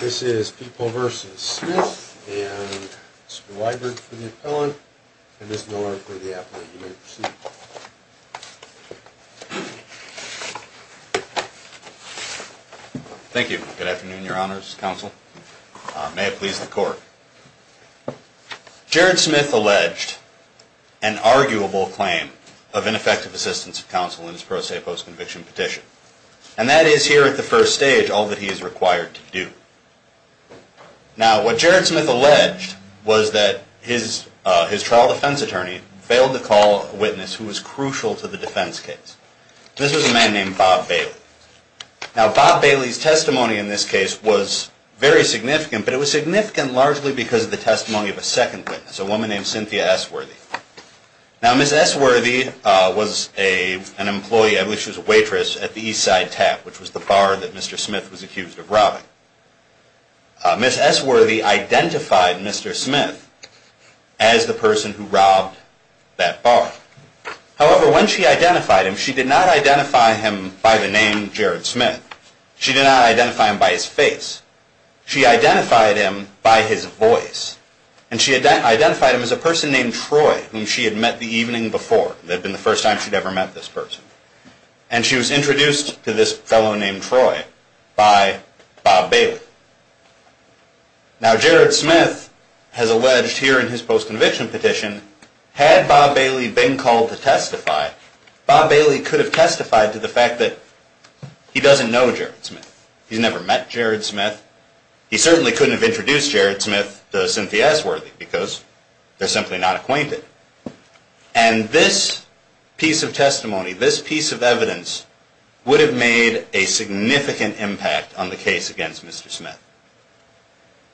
This is People v. Smith, and Mr. Weidner for the appellant, and Ms. Miller for the appellant. You may proceed. Thank you. Good afternoon, Your Honors Counsel. May it please the Court. Jared Smith alleged an arguable claim of ineffective assistance of counsel in his pro se postconviction petition. And that is here at the first stage all that he is required to do. Now, what Jared Smith alleged was that his trial defense attorney failed to call a witness who was crucial to the defense case. This was a man named Bob Bailey. Now, Bob Bailey's testimony in this case was very significant, but it was significant largely because of the testimony of a second witness, a woman named Cynthia S. Worthey. Now, Ms. S. Worthey was an employee, at least she was a waitress, at the Eastside Tap, which was the bar that Mr. Smith was accused of robbing. Ms. S. Worthey identified Mr. Smith as the person who robbed that bar. However, when she identified him, she did not identify him by the name Jared Smith. She did not identify him by his face. She identified him by his voice. And she identified him as a person named Troy, whom she had met the evening before. It had been the first time she'd ever met this person. And she was introduced to this fellow named Troy by Bob Bailey. Now, Jared Smith has alleged here in his postconviction petition, had Bob Bailey been called to testify, Bob Bailey could have testified to the fact that he doesn't know Jared Smith. He's never met Jared Smith. He certainly couldn't have introduced Jared Smith to Cynthia S. Worthey because they're simply not acquainted. And this piece of testimony, this piece of evidence, would have made a significant impact on the case against Mr. Smith.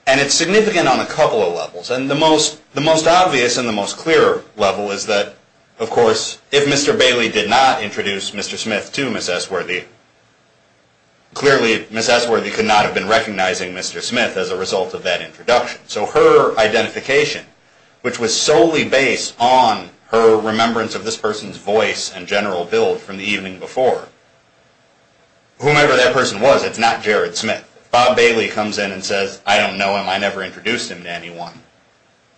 And it's significant on a couple of levels. And the most obvious and the most clear level is that, of course, if Mr. Bailey did not introduce Mr. Smith to Ms. S. Worthey, clearly Ms. S. Worthey could not have been recognizing Mr. Smith as a result of that introduction. So her identification, which was solely based on her remembrance of this person's voice and general build from the evening before, whomever that person was, it's not Jared Smith. Bob Bailey comes in and says, I don't know him. I never introduced him to anyone.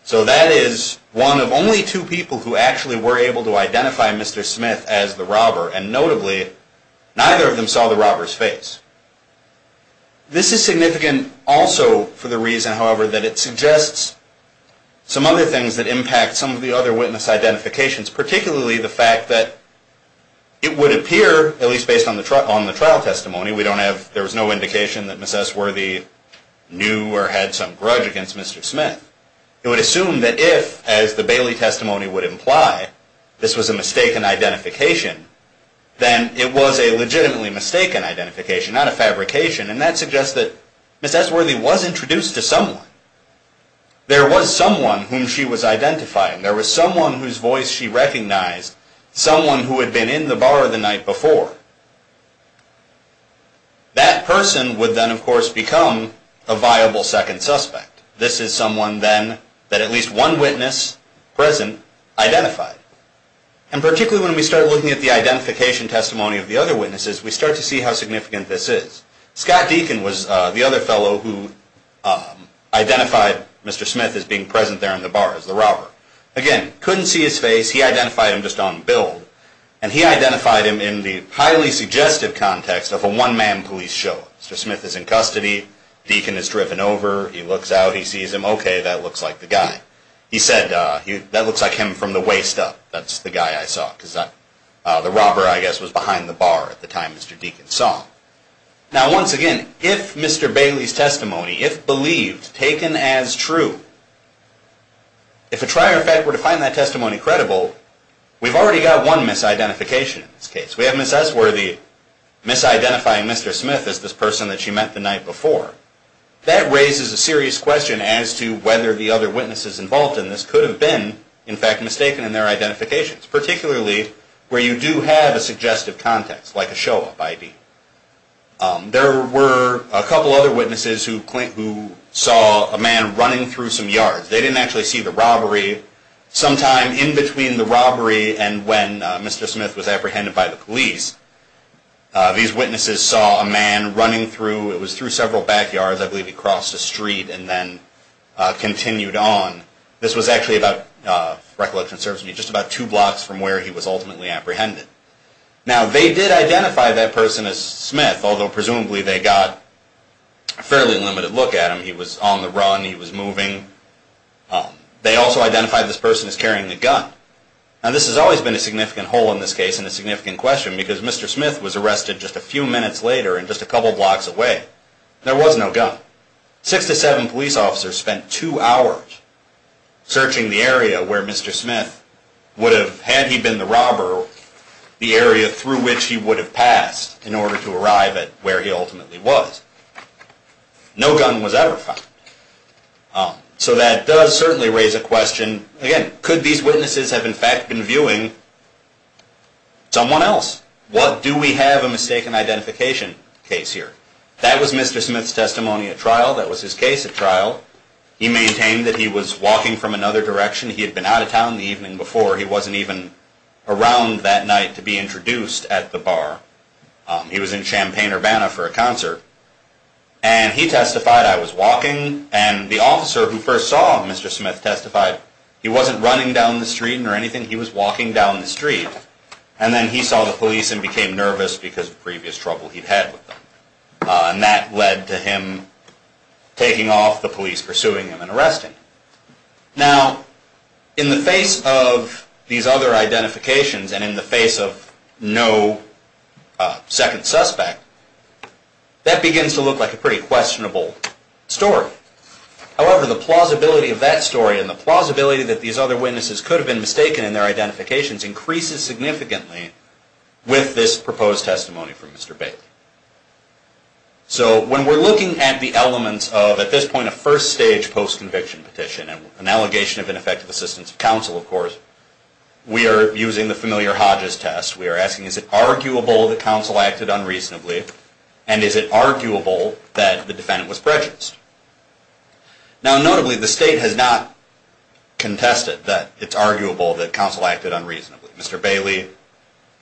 So that is one of only two people who actually were able to identify Mr. Smith as the robber. And notably, neither of them saw the robber's face. This is significant also for the reason, however, that it suggests some other things that impact some of the other witness identifications, particularly the fact that it would appear, at least based on the trial testimony, we don't have, there was no indication that Ms. S. Worthey knew or had some grudge against Mr. Smith. It would assume that if, as the Bailey testimony would imply, this was a mistaken identification, then it was a legitimately mistaken identification, not a fabrication. And that suggests that Ms. S. Worthey was introduced to someone. There was someone whom she was identifying. There was someone whose voice she recognized, someone who had been in the bar the night before. That person would then, of course, become a viable second suspect. This is someone then that at least one witness present identified. And particularly when we start looking at the identification testimony of the other witnesses, we start to see how significant this is. Scott Deacon was the other fellow who identified Mr. Smith as being present there in the bar as the robber. Again, couldn't see his face. He identified him just on build. And he identified him in the highly suggestive context of a one-man police show. Mr. Smith is in custody. Deacon is driven over. He looks out. He sees him. Okay, that looks like the guy. He said, that looks like him from the waist up. That's the guy I saw. Because the robber, I guess, was behind the bar at the time Mr. Deacon saw. Now, once again, if Mr. Bailey's testimony, if believed, taken as true, if a trier of fact were to find that testimony credible, we've already got one misidentification in this case. We have Ms. S. Worthey misidentifying Mr. Smith as this person that she met the night before. That raises a serious question as to whether the other witnesses involved in this could have been, in fact, mistaken in their identifications, particularly where you do have a suggestive context, like a show-up ID. There were a couple other witnesses who saw a man running through some yards. They didn't actually see the robbery. Sometime in between the robbery and when Mr. Smith was apprehended by the police, these witnesses saw a man running through. It was through several backyards. I believe he crossed a street and then continued on. This was actually about, recollection serves me, just about two blocks from where he was ultimately apprehended. Now, they did identify that person as Smith, although presumably they got a fairly limited look at him. He was on the run. He was moving. They also identified this person as carrying a gun. Now, this has always been a significant hole in this case and a significant question, because Mr. Smith was arrested just a few minutes later and just a couple blocks away. There was no gun. Six to seven police officers spent two hours searching the area where Mr. Smith would have, had he been the robber, the area through which he would have passed in order to arrive at where he ultimately was. No gun was ever found. So that does certainly raise a question. Again, could these witnesses have in fact been viewing someone else? What do we have a mistaken identification case here? That was Mr. Smith's testimony at trial. That was his case at trial. He maintained that he was walking from another direction. He had been out of town the evening before. He wasn't even around that night to be introduced at the bar. He was in Champaign-Urbana for a concert. And he testified, I was walking. And the officer who first saw Mr. Smith testified, he wasn't running down the street or anything. He was walking down the street. And then he saw the police and became nervous because of previous trouble he'd had with them. And that led to him taking off, the police pursuing him and arresting him. Now, in the face of these other identifications and in the face of no second suspect, that begins to look like a pretty questionable story. However, the plausibility of that story and the plausibility that these other witnesses could have been mistaken in their identifications increases significantly with this proposed testimony from Mr. Bailey. So when we're looking at the elements of, at this point, a first-stage post-conviction petition and an allegation of ineffective assistance of counsel, of course, we are using the familiar Hodges test. We are asking, is it arguable that counsel acted unreasonably? And is it arguable that the defendant was prejudiced? Now, notably, the state has not contested that it's arguable that counsel acted unreasonably. Mr. Bailey,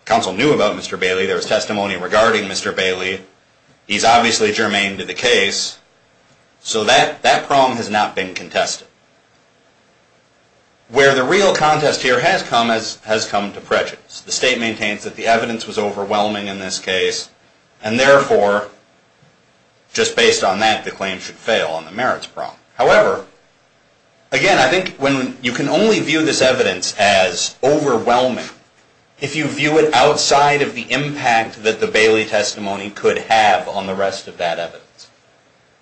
counsel knew about Mr. Bailey. There was testimony regarding Mr. Bailey. He's obviously germane to the case. So that prong has not been contested. Where the real contest here has come, has come to prejudice. The state maintains that the evidence was overwhelming in this case, and therefore, just based on that, the claim should fail on the merits prong. However, again, I think when you can only view this evidence as overwhelming if you view it outside of the impact that the Bailey testimony could have on the rest of that evidence.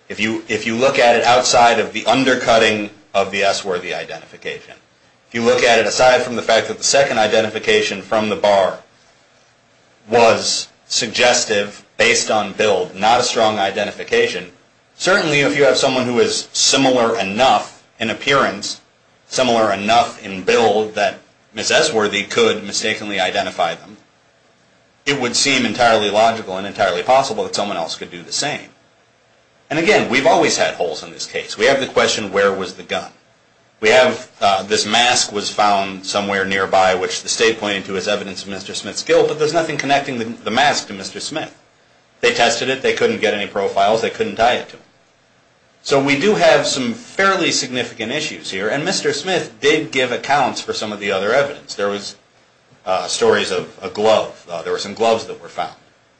If you look at it outside of the undercutting of the S. Worthy identification, if you look at it aside from the fact that the second identification from the bar was suggestive based on build, not a strong identification, certainly if you have someone who is similar enough in appearance, similar enough in build that Ms. S. Worthy could mistakenly identify them, it would seem entirely logical and entirely possible that someone else could do the same. And again, we've always had holes in this case. We have the question, where was the gun? We have this mask was found somewhere nearby, which the state pointed to as evidence of Mr. Smith's guilt, but there's nothing connecting the mask to Mr. Smith. They tested it. They couldn't get any profiles. They couldn't tie it to him. So we do have some fairly significant issues here, and Mr. Smith did give accounts for some of the other evidence. There was stories of a glove. There were some gloves that were found.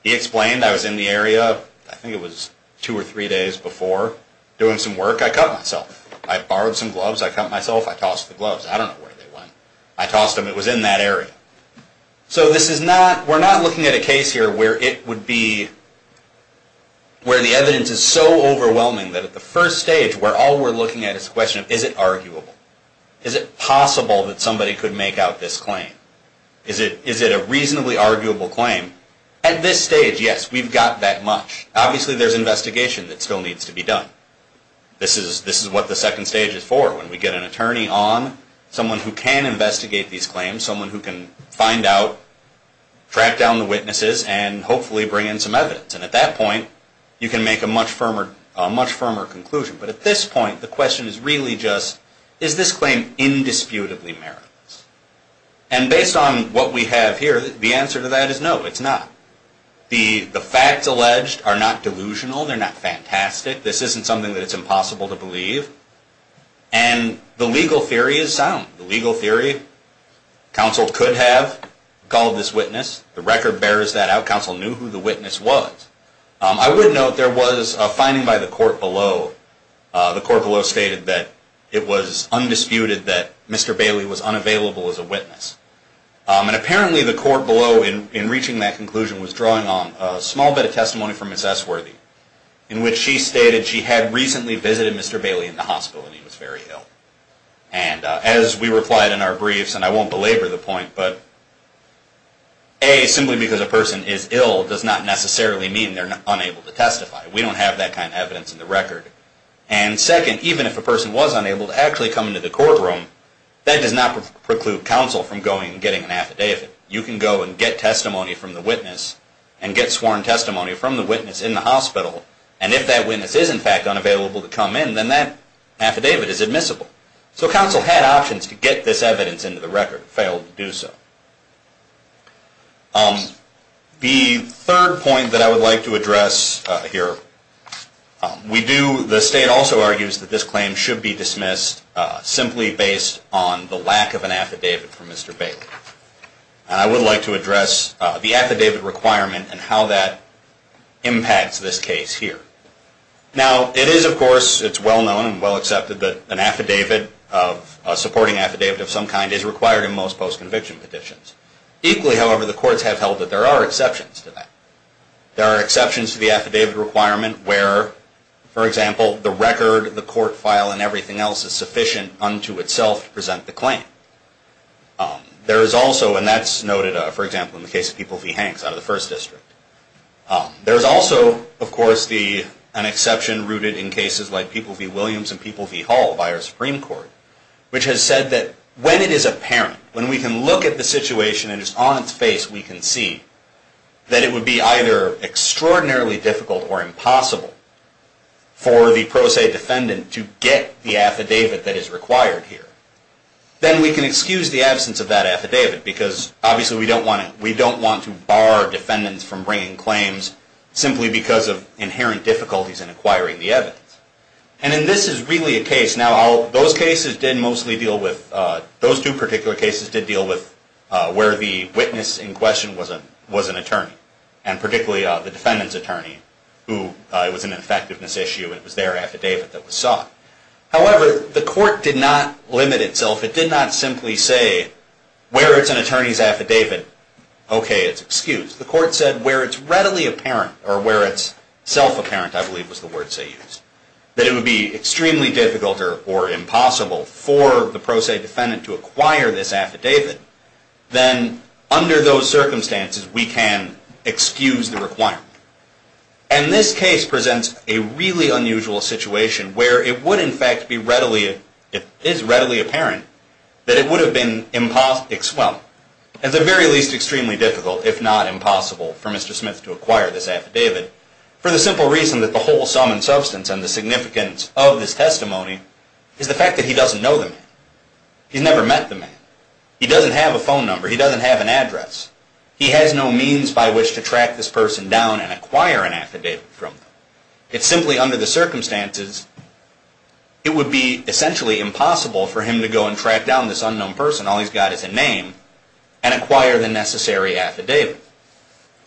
He explained, I was in the area, I think it was two or three days before, doing some work. I cut myself. I borrowed some gloves. I cut myself. I tossed the gloves. I don't know where they went. I tossed them. It was in that area. So this is not, we're not looking at a case here where it would be, where the evidence is so overwhelming that at the first stage, where all we're looking at is the question, is it arguable? Is it possible that somebody could make out this claim? Is it a reasonably arguable claim? At this stage, yes, we've got that much. Obviously, there's investigation that still needs to be done. This is what the second stage is for. When we get an attorney on, someone who can investigate these claims, someone who can find out, track down the witnesses, and hopefully bring in some evidence. And at that point, you can make a much firmer conclusion. But at this point, the question is really just, is this claim indisputably meritless? And based on what we have here, the answer to that is no, it's not. The facts alleged are not delusional. They're not fantastic. This isn't something that it's impossible to believe. And the legal theory is sound. The legal theory, counsel could have called this witness. The record bears that out. Counsel knew who the witness was. I would note there was a finding by the court below. The court below stated that it was undisputed that Mr. Bailey was unavailable as a witness. And apparently, the court below, in reaching that conclusion, was drawing on a small bit of testimony from Ms. Essworthy, in which she stated she had recently visited Mr. Bailey in the hospital, and he was very ill. And as we replied in our briefs, and I won't belabor the point, but A, simply because a person is ill does not necessarily mean they're unable to testify. We don't have that kind of evidence in the record. And second, even if a person was unable to actually come into the courtroom, that does not preclude counsel from going and getting an affidavit. You can go and get testimony from the witness, and get sworn testimony from the witness in the hospital, and if that witness is in fact unavailable to come in, then that affidavit is admissible. So counsel had options to get this evidence into the record, and failed to do so. The third point that I would like to address here, the state also argues that this claim should be dismissed simply based on the lack of an affidavit from Mr. Bailey. And I would like to address the affidavit requirement and how that impacts this case here. Now, it is of course, it's well known and well accepted that an affidavit, a supporting affidavit of some kind, is required in most post-conviction petitions. Equally, however, the courts have held that there are exceptions to that. There are exceptions to the affidavit requirement where, for example, the record, the court file, and everything else is sufficient unto itself to present the claim. There is also, and that's noted, for example, in the case of People v. Hanks out of the First District. There is also, of course, an exception rooted in cases like People v. Williams and People v. Hall by our Supreme Court, which has said that when it is apparent, when we can look at the situation and just on its face we can see, that it would be either extraordinarily difficult or impossible for the pro se defendant to get the affidavit that is required here. Then we can excuse the absence of that affidavit because obviously we don't want to bar defendants from bringing claims simply because of inherent difficulties in acquiring the evidence. And in this is really a case, now those cases did mostly deal with, those two particular cases did deal with where the witness in question was an attorney, and particularly the defendant's attorney, who it was an effectiveness issue and it was their affidavit that was sought. However, the court did not limit itself. It did not simply say where it's an attorney's affidavit, okay, it's excused. The court said where it's readily apparent or where it's self-apparent, I believe was the word they used, that it would be extremely difficult or impossible for the pro se defendant to acquire this affidavit, then under those circumstances we can excuse the requirement. And this case presents a really unusual situation where it would in fact be readily, if it is readily apparent, that it would have been impossible, well, at the very least extremely difficult if not impossible for Mr. Smith to acquire this affidavit for the simple reason that the whole sum and substance and the significance of this testimony is the fact that he doesn't know the man. He's never met the man. He doesn't have a phone number. He doesn't have an address. He has no means by which to track this person down and acquire an affidavit from them. It's simply under the circumstances it would be essentially impossible for him to go and track down this unknown person, all he's got is a name, and acquire the necessary affidavit.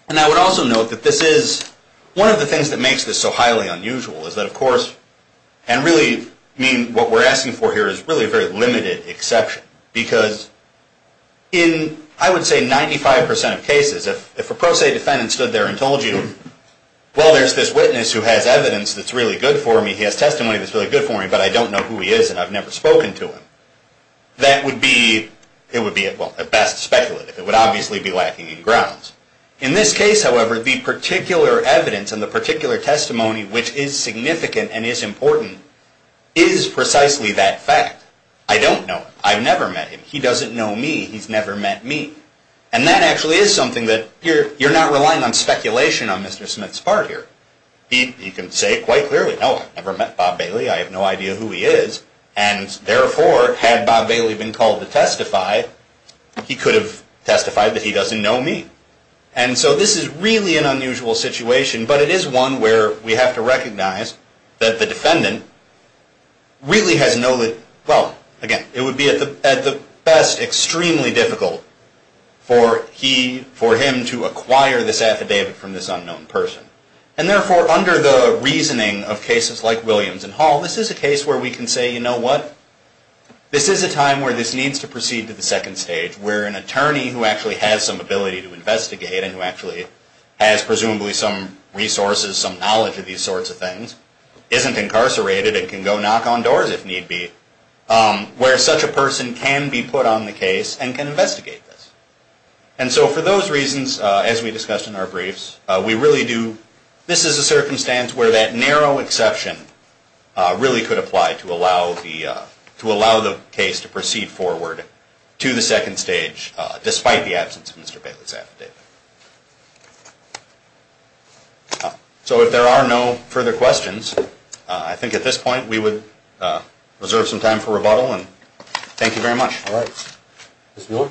And I would also note that this is, one of the things that makes this so highly unusual is that, of course, and really, I mean, what we're asking for here is really a very limited exception, because in, I would say, 95% of cases, if a pro se defendant stood there and told you, well, there's this witness who has evidence that's really good for me, he has testimony that's really good for me, but I don't know who he is and I've never spoken to him, that would be, it would be at best speculative. It would obviously be lacking in grounds. In this case, however, the particular evidence and the particular testimony which is significant and is important is precisely that fact. I don't know him. I've never met him. He doesn't know me. He's never met me. And that actually is something that you're not relying on speculation on Mr. Smith's part here. He can say quite clearly, no, I've never met Bob Bailey, I have no idea who he is, and therefore, had Bob Bailey been called to testify, he could have testified that he doesn't know me. And so this is really an unusual situation, but it is one where we have to recognize that the defendant really has no, well, again, it would be at the best extremely difficult for he, for him to acquire this affidavit from this unknown person. And therefore, under the reasoning of cases like Williams and Hall, this is a case where we can say, you know what, this is a time where this needs to proceed to the second stage, where an attorney who actually has some ability to investigate and who actually has presumably some resources, some knowledge of these sorts of things, isn't incarcerated and can go knock on doors if need be, where such a person can be put on the case and can investigate this. And so for those reasons, as we discussed in our briefs, we really do, this is a circumstance where that narrow exception really could apply to allow the, the case to proceed forward to the second stage, despite the absence of Mr. Bailey's affidavit. So if there are no further questions, I think at this point we would reserve some time for rebuttal, and thank you very much. All right. Ms. Miller?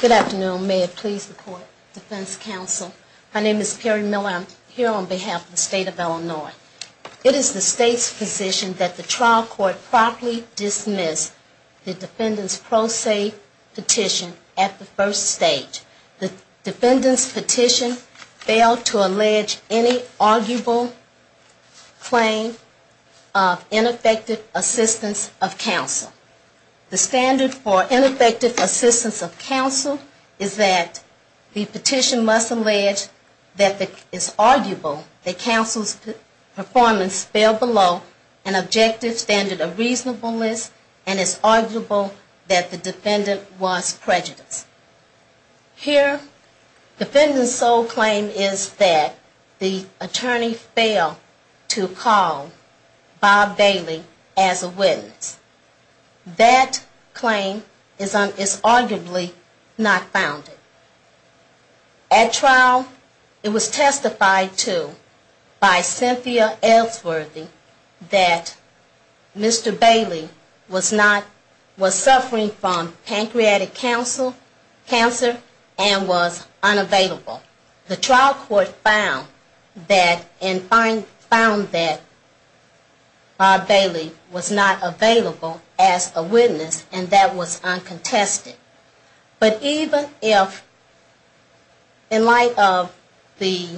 Good afternoon. May it please the court, defense counsel. My name is Perry Miller. I'm here on behalf of the state of Illinois. It is the state's position that the trial court properly dismiss the defendant's pro se petition at the first stage. The defendant's petition failed to allege any arguable claim of ineffective assistance of counsel. The standard for ineffective assistance of counsel is that the petition must allege that it is arguable that counsel's performance fell below an objective standard of reasonableness, and it's arguable that the defendant was prejudiced. Here, defendant's sole claim is that the attorney failed to call Bob Bailey as a witness. That claim is arguably not founded. At trial, it was testified to by Cynthia Ellsworthy that Mr. Bailey was suffering from pancreatic cancer and was unavailable. The trial court found that and found that Bob Bailey was not available as a witness, and that was uncontested. But even if, in light of the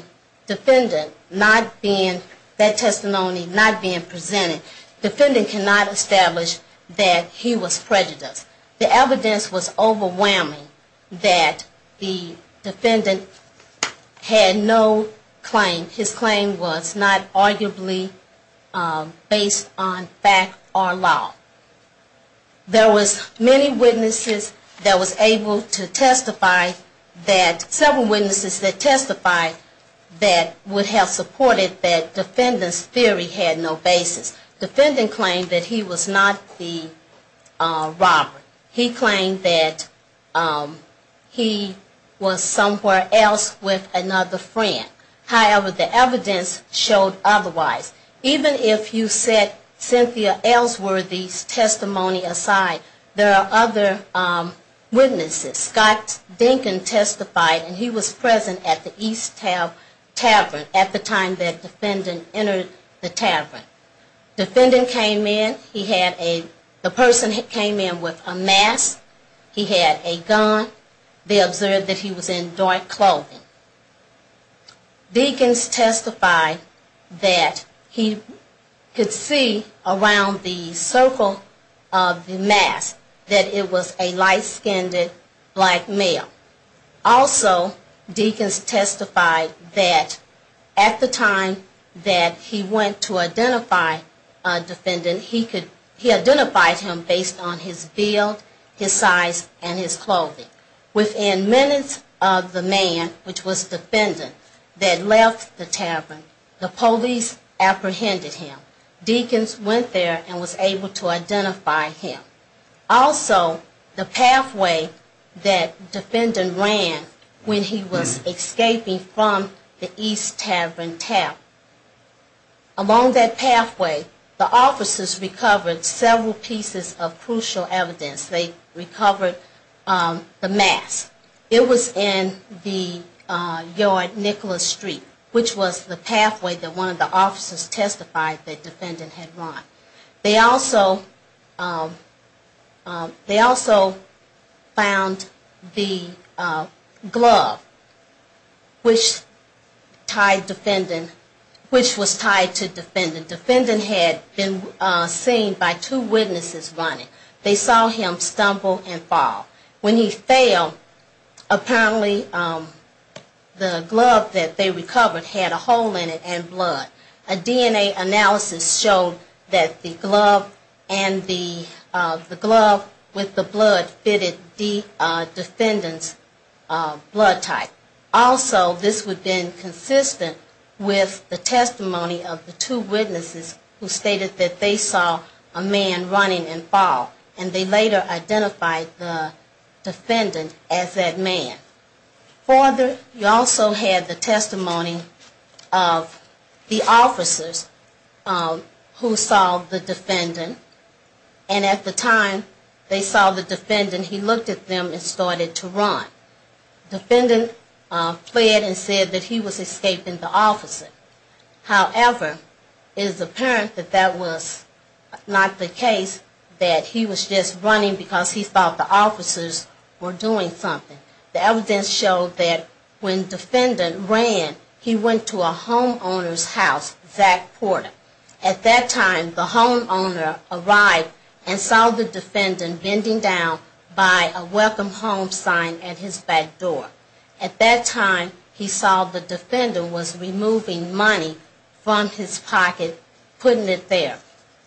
defendant not being, that testimony not being presented, the defendant cannot establish that he was prejudiced. The evidence was overwhelming that the defendant had no claim. His claim was not arguably based on fact or law. There was many witnesses that was able to testify that, several witnesses that testified that would have supported that defendant's theory had no basis. Defendant claimed that he was not the robber. He claimed that he was somewhere else with another friend. However, the evidence showed otherwise. Even if you set Cynthia Ellsworthy's testimony aside, there are other witnesses. Scott Dinkins testified, and he was present at the East Tavern at the time that defendant entered the tavern. Defendant came in, he had a, the person came in with a mask, he had a gun, they observed that he was in dark clothing. Dinkins testified that he could see around the circle of the mask that it was a light-skinned man. Also, Dinkins testified that at the time that he went to identify a defendant, he identified him based on his build, his size, and his clothing. Within minutes of the man, which was defendant, that left the tavern, the police apprehended him. Dinkins went there and was able to identify him. Also, the pathway that defendant ran when he was escaping from the East Tavern tap, along that pathway, the officers recovered several pieces of crucial evidence. They recovered the mask. It was in the yard, Nicholas Street, which was the pathway that one of the officers testified that defendant had run. They also, they also found the glove, which tied defendant, which was tied to defendant. Defendant had been seen by two witnesses running. They saw him stumble and fall. When he fell, apparently the glove that they recovered had a hole in it and blood. A DNA analysis showed that the glove and the glove with the blood fitted the defendant's blood type. Also, this would have been consistent with the testimony of the two witnesses who stated that they saw a man running and fall. And they later identified the defendant as that man. Further, you also had the testimony of the officers who saw the defendant. And at the time they saw the defendant, he looked at them and started to run. Defendant fled and said that he was escaping the officer. However, it is apparent that that was not the case, that he was just running because he thought the officers were doing something. The evidence showed that when defendant ran, he went to a homeowner's house, Zach Porter. At that time, the homeowner arrived and saw the defendant bending down by a welcome home sign at his back door. At that time, he saw the defendant was removing money from his pocket, putting it there.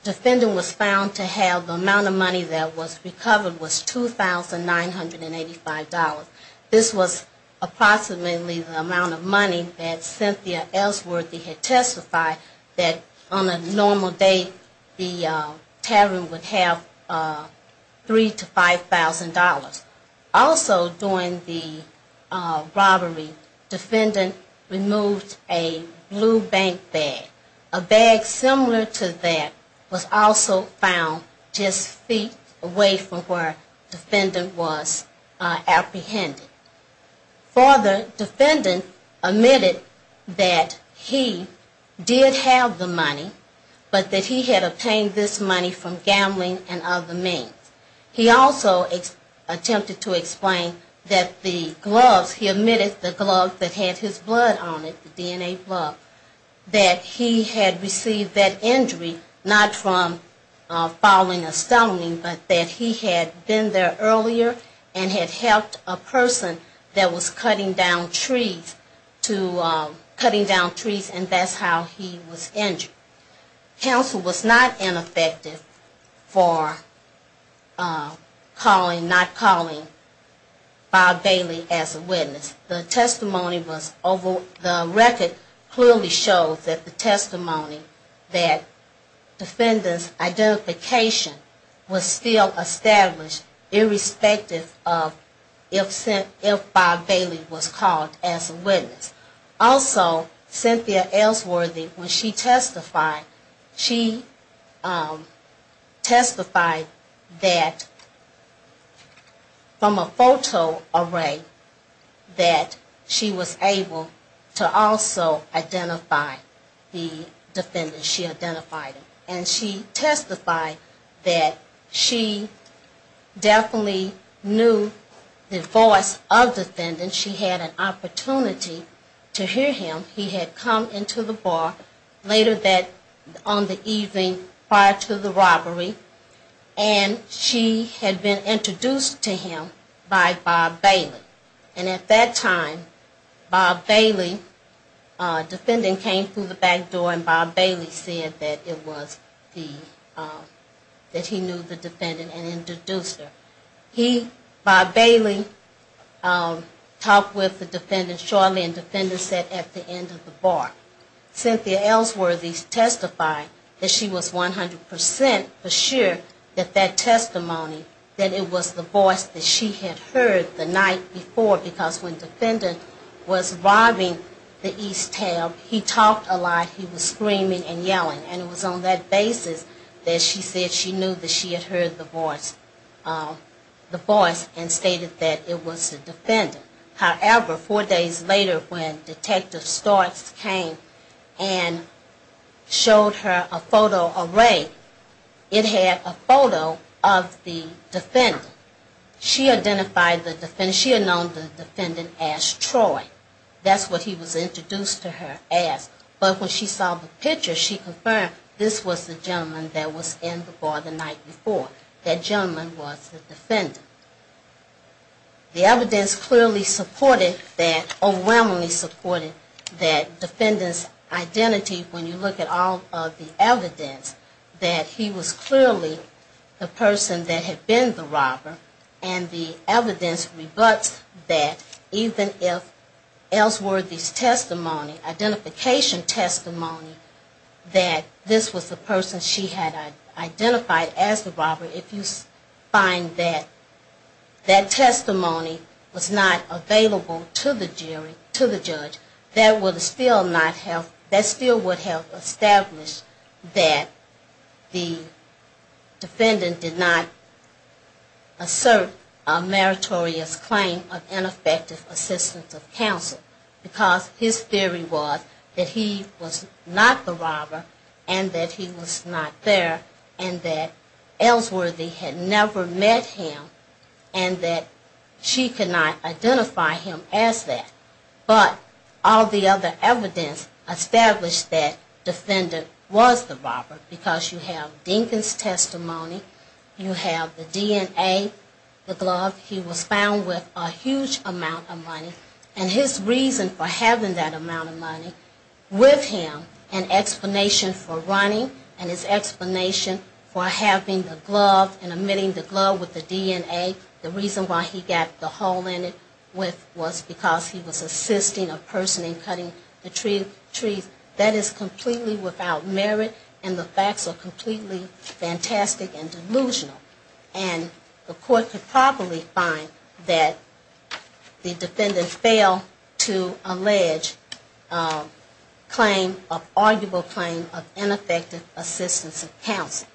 Defendant was found to have the amount of money that was recovered was $2,985. This was approximately the amount of money that Cynthia Ellsworthy had testified that on a normal day, the tavern would have $3,000 to $5,000. Also during the robbery, defendant removed a blue bank bag. A bag similar to that was also found just feet away from where defendant was apprehended. Further, defendant admitted that he did have the money, but that he had obtained this money from gambling and other means. He also attempted to explain that the gloves, he admitted the gloves that had his blood on it, the DNA blood, that he had received that injury not from fouling or stoning, but that he had been there earlier and had helped a person that was cutting down trees to, cutting down trees and that's how he was injured. Counsel was not ineffective for calling, not calling Bob Bailey as a witness. The testimony was, the record clearly shows that the testimony that defendant's identification was still established irrespective of if Bob Bailey was called as a witness. Also, Cynthia Ellsworthy, when she testified, she testified that from a photo array that she was able to also identify the defendant, she identified him. And she testified that she definitely knew the voice of defendant. She had an opportunity to hear him. He had come into the bar later that, on the evening prior to the robbery, and she had been introduced to him by Bob Bailey. And at that time, Bob Bailey, defendant came through the back door and Bob Bailey said that it was the, that he knew the defendant and introduced her. He, Bob Bailey, talked with the defendant shortly and defendant sat at the end of the bar. Cynthia Ellsworthy testified that she was 100% for sure that that testimony, that it was the voice that she had heard the night before, because when defendant was robbing the East Tail, he talked a lot, he was screaming and yelling. And it was on that basis that she said she knew that she had heard the voice and stated that it was the defendant. However, four days later when Detective Starks came and showed her a photo array, it had a photo of the defendant. She identified the defendant, she had known the defendant as Troy. That's what he was introduced to her as. But when she saw the picture, she confirmed this was the gentleman that was in the bar the night before. That gentleman was the defendant. The evidence clearly supported that, overwhelmingly supported that defendant's identity when you look at all of the evidence, that he was clearly the person that had been the robber. And the evidence rebuts that even if Ellsworthy's testimony, identification testimony, that this was the person she had identified as the robber, if you find that that testimony was not available to the jury, to the judge, that would still not have, that still would have established that the defendant did not associate with the robber. Ellsworthy did not assert a meritorious claim of ineffective assistance of counsel, because his theory was that he was not the robber, and that he was not there, and that Ellsworthy had never met him, and that she could not identify him as that. But all the other evidence established that the defendant was the robber, because you have Dinkin's testimony, you have the DNA, you have the DNA of the robber, and you have the DNA of the defendant. And the evidence that he was not the robber, he was found with a huge amount of money, and his reason for having that amount of money with him, an explanation for running, and his explanation for having the glove and emitting the glove with the DNA, the reason why he got the hole in it was because he was assisting a person in cutting the trees. That is completely without merit, and the facts are completely fantastic and delusional, and the court cannot do anything about it. And as a consequence, we should probably find that the defendant failed to allege an arguable claim of ineffective assistance of counsel.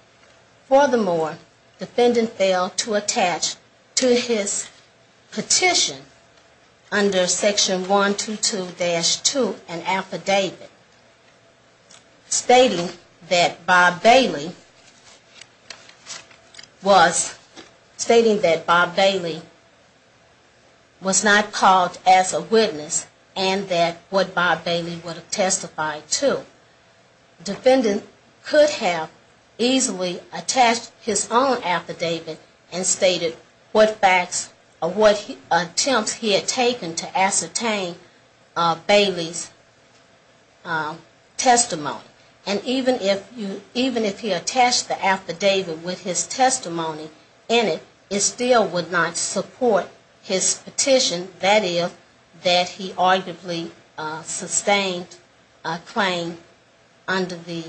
Furthermore, the defendant failed to attach to his petition under section 122-2 an affidavit stating that Bob Bailey was the robber. And that Bob Bailey was not called as a witness, and that what Bob Bailey would have testified to. The defendant could have easily attached his own affidavit and stated what facts or what attempts he had taken to ascertain Bailey's testimony. And even if he attached the affidavit with his testimony in it, it still would not support his petition, that is, that he arguably sustained a claim under the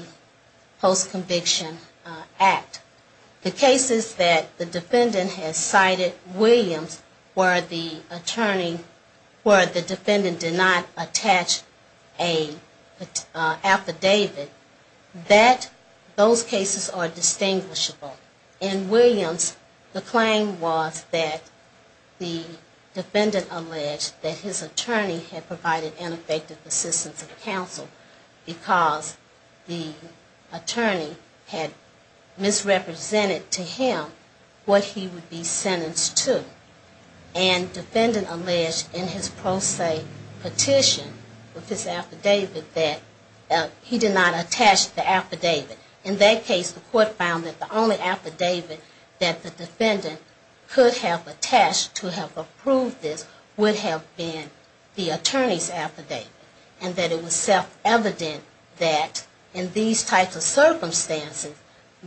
post-conviction act. The cases that the defendant has cited, Williams, where the attorney, where the defendant did not attach an affidavit to his own affidavit. Those cases are distinguishable. In Williams, the claim was that the defendant alleged that his attorney had provided ineffective assistance of counsel because the attorney had misrepresented to him what he would be sentenced to. And the defendant alleged in his pro se petition with his affidavit that he did not attach an affidavit to his own affidavit. In that case, the court found that the only affidavit that the defendant could have attached to have approved this would have been the attorney's affidavit. And that it was self-evident that in these types of circumstances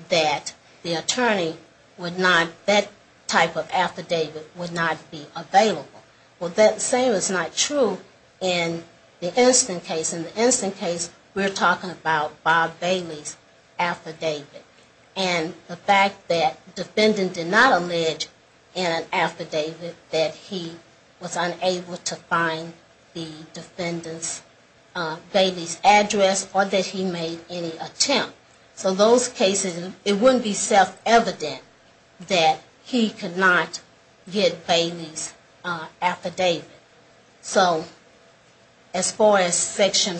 that the attorney would not, that type of affidavit would not be available. Well, that same is not true in the instant case. In the instant case, we're talking about Bob Bailey's affidavit. And the fact that the defendant did not allege in an affidavit that he was unable to find the defendant's, Bailey's address or that he made any attempt. So those cases, it wouldn't be self-evident that he could not get Bailey's affidavit. So as far as section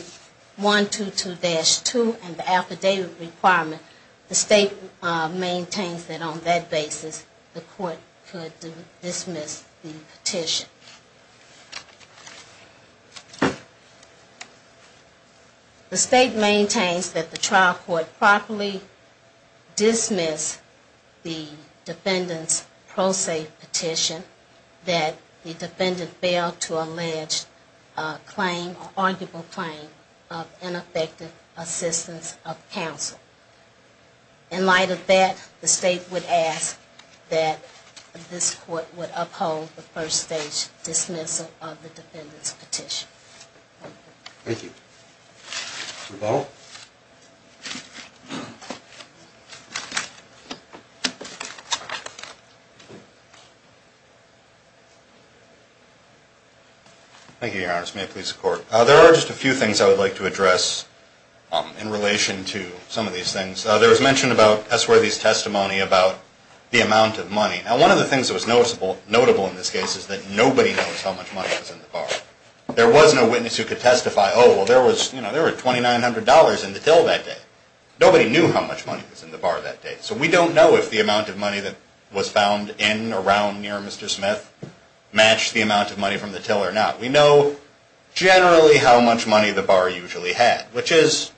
122-2 and the affidavit requirement, the state maintains that on that basis, the court could dismiss the petition. The state maintains that the trial court properly dismissed the defendant's pro se petition, that the defendant failed to meet the court's requirements. And that the defendant was unable to allege a claim, an arguable claim of ineffective assistance of counsel. In light of that, the state would ask that this court would uphold the first stage dismissal of the defendant's petition. Thank you. Thank you, Your Honor. May it please the court. There are just a few things I would like to address in relation to some of these things. There was mention about S. Worthy's testimony about the amount of money. Now, one of the things that was notable in this case is that nobody knows how much money was in the bar. There was no witness who could testify, oh, well, there was $2,900 in the till that day. Nobody knew how much money was in the bar that day. So we don't know if the amount of money that was found in or around near Mr. Smith matched the amount of money from the till or not. We know generally how much money the bar usually had, which is,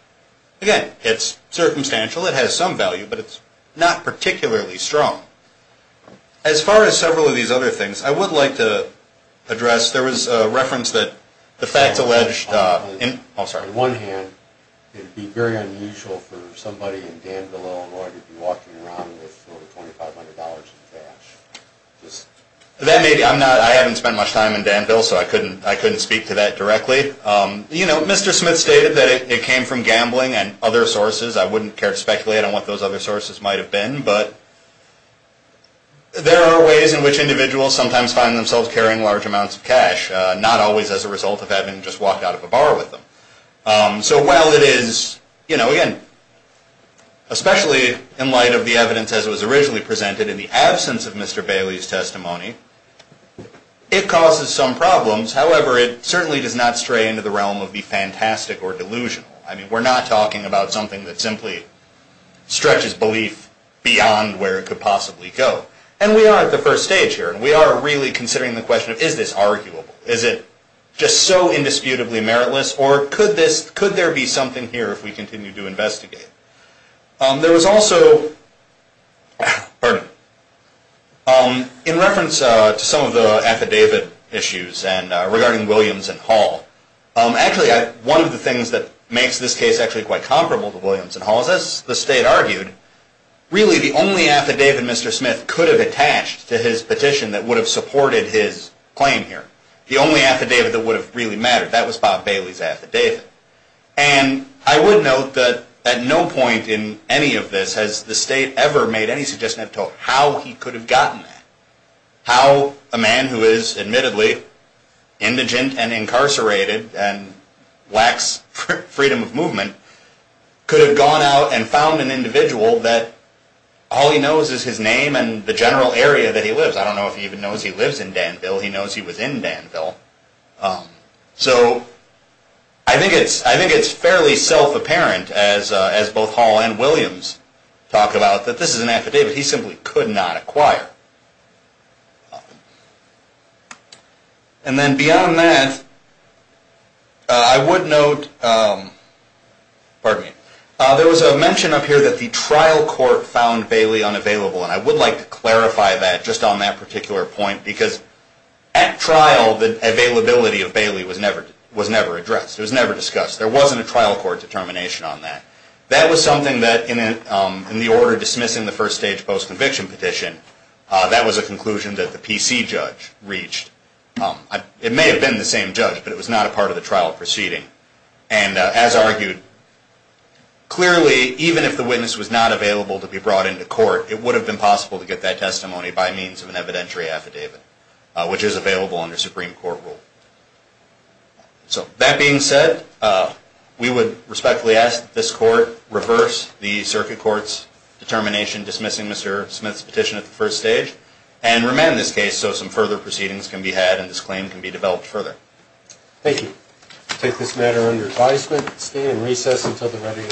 again, it's circumstantial. It has some value, but it's not particularly strong. As far as several of these other things, I would like to address, there was a reference that the facts alleged in Oh, sorry. On one hand, it would be very unusual for somebody in Danville, Illinois to be walking around with $2,500 in cash. I haven't spent much time in Danville, so I couldn't speak to that directly. You know, Mr. Smith stated that it came from gambling and other sources. I wouldn't care to speculate on what those other sources might have been, but there are ways in which individuals sometimes find themselves carrying large amounts of cash, not always as a result of having just walked out of a bar with them. So while it is, you know, again, especially in light of the evidence as it was originally presented, in the absence of Mr. Bailey's testimony, it causes some problems. However, it certainly does not stray into the realm of the fantastic or delusional. I mean, we're not talking about something that simply stretches belief beyond where it could possibly go. And we are at the first stage here, and we are really considering the question, is this arguable? Is it just so indisputably meritless? Or could there be something here if we continue to investigate? There was also, pardon me, in reference to some of the affidavit issues regarding Williams and Hall. Actually, one of the things that makes this case actually quite comparable to Williams and Hall is, as the State argued, really the only affidavit Mr. Smith could have attached to his petition that would have supported his claim here, the only affidavit that would have really mattered, that was Bob Bailey's affidavit. And I would note that at no point in any of this has the State ever made any suggestion as to how he could have gotten that. How a man who is, admittedly, indigent and incarcerated, and lacks freedom of movement, could have gone out and found an individual that all he knows is his name and the general area that he lives. I don't know if he even knows he lives in Danville. He knows he was in Danville. So I think it's fairly self-apparent, as both Hall and Williams talk about, that this is an affidavit he simply could not acquire. And then beyond that, I would note, pardon me, there was a mention up here that the trial court found Bailey unavailable. And I would like to clarify that, just on that particular point, because at trial, the availability of Bailey was never addressed. It was never discussed. There wasn't a trial court determination on that. That was something that, in the order dismissing the first stage post-conviction petition, that was a conclusion that the PC judge reached. It may have been the same judge, but it was not a part of the trial proceeding. And as argued, clearly, even if the witness was not available to be brought into court, it would have been possible to get that testimony by means of an evidentiary affidavit, which is available under Supreme Court rule. So that being said, we would respectfully ask that this court reverse the circuit court's determination dismissing Mr. Smith's petition at the first stage and remand this case so some further proceedings can be had and this claim can be developed further. Thank you. I take this matter under advisement. Stay in recess until the ready.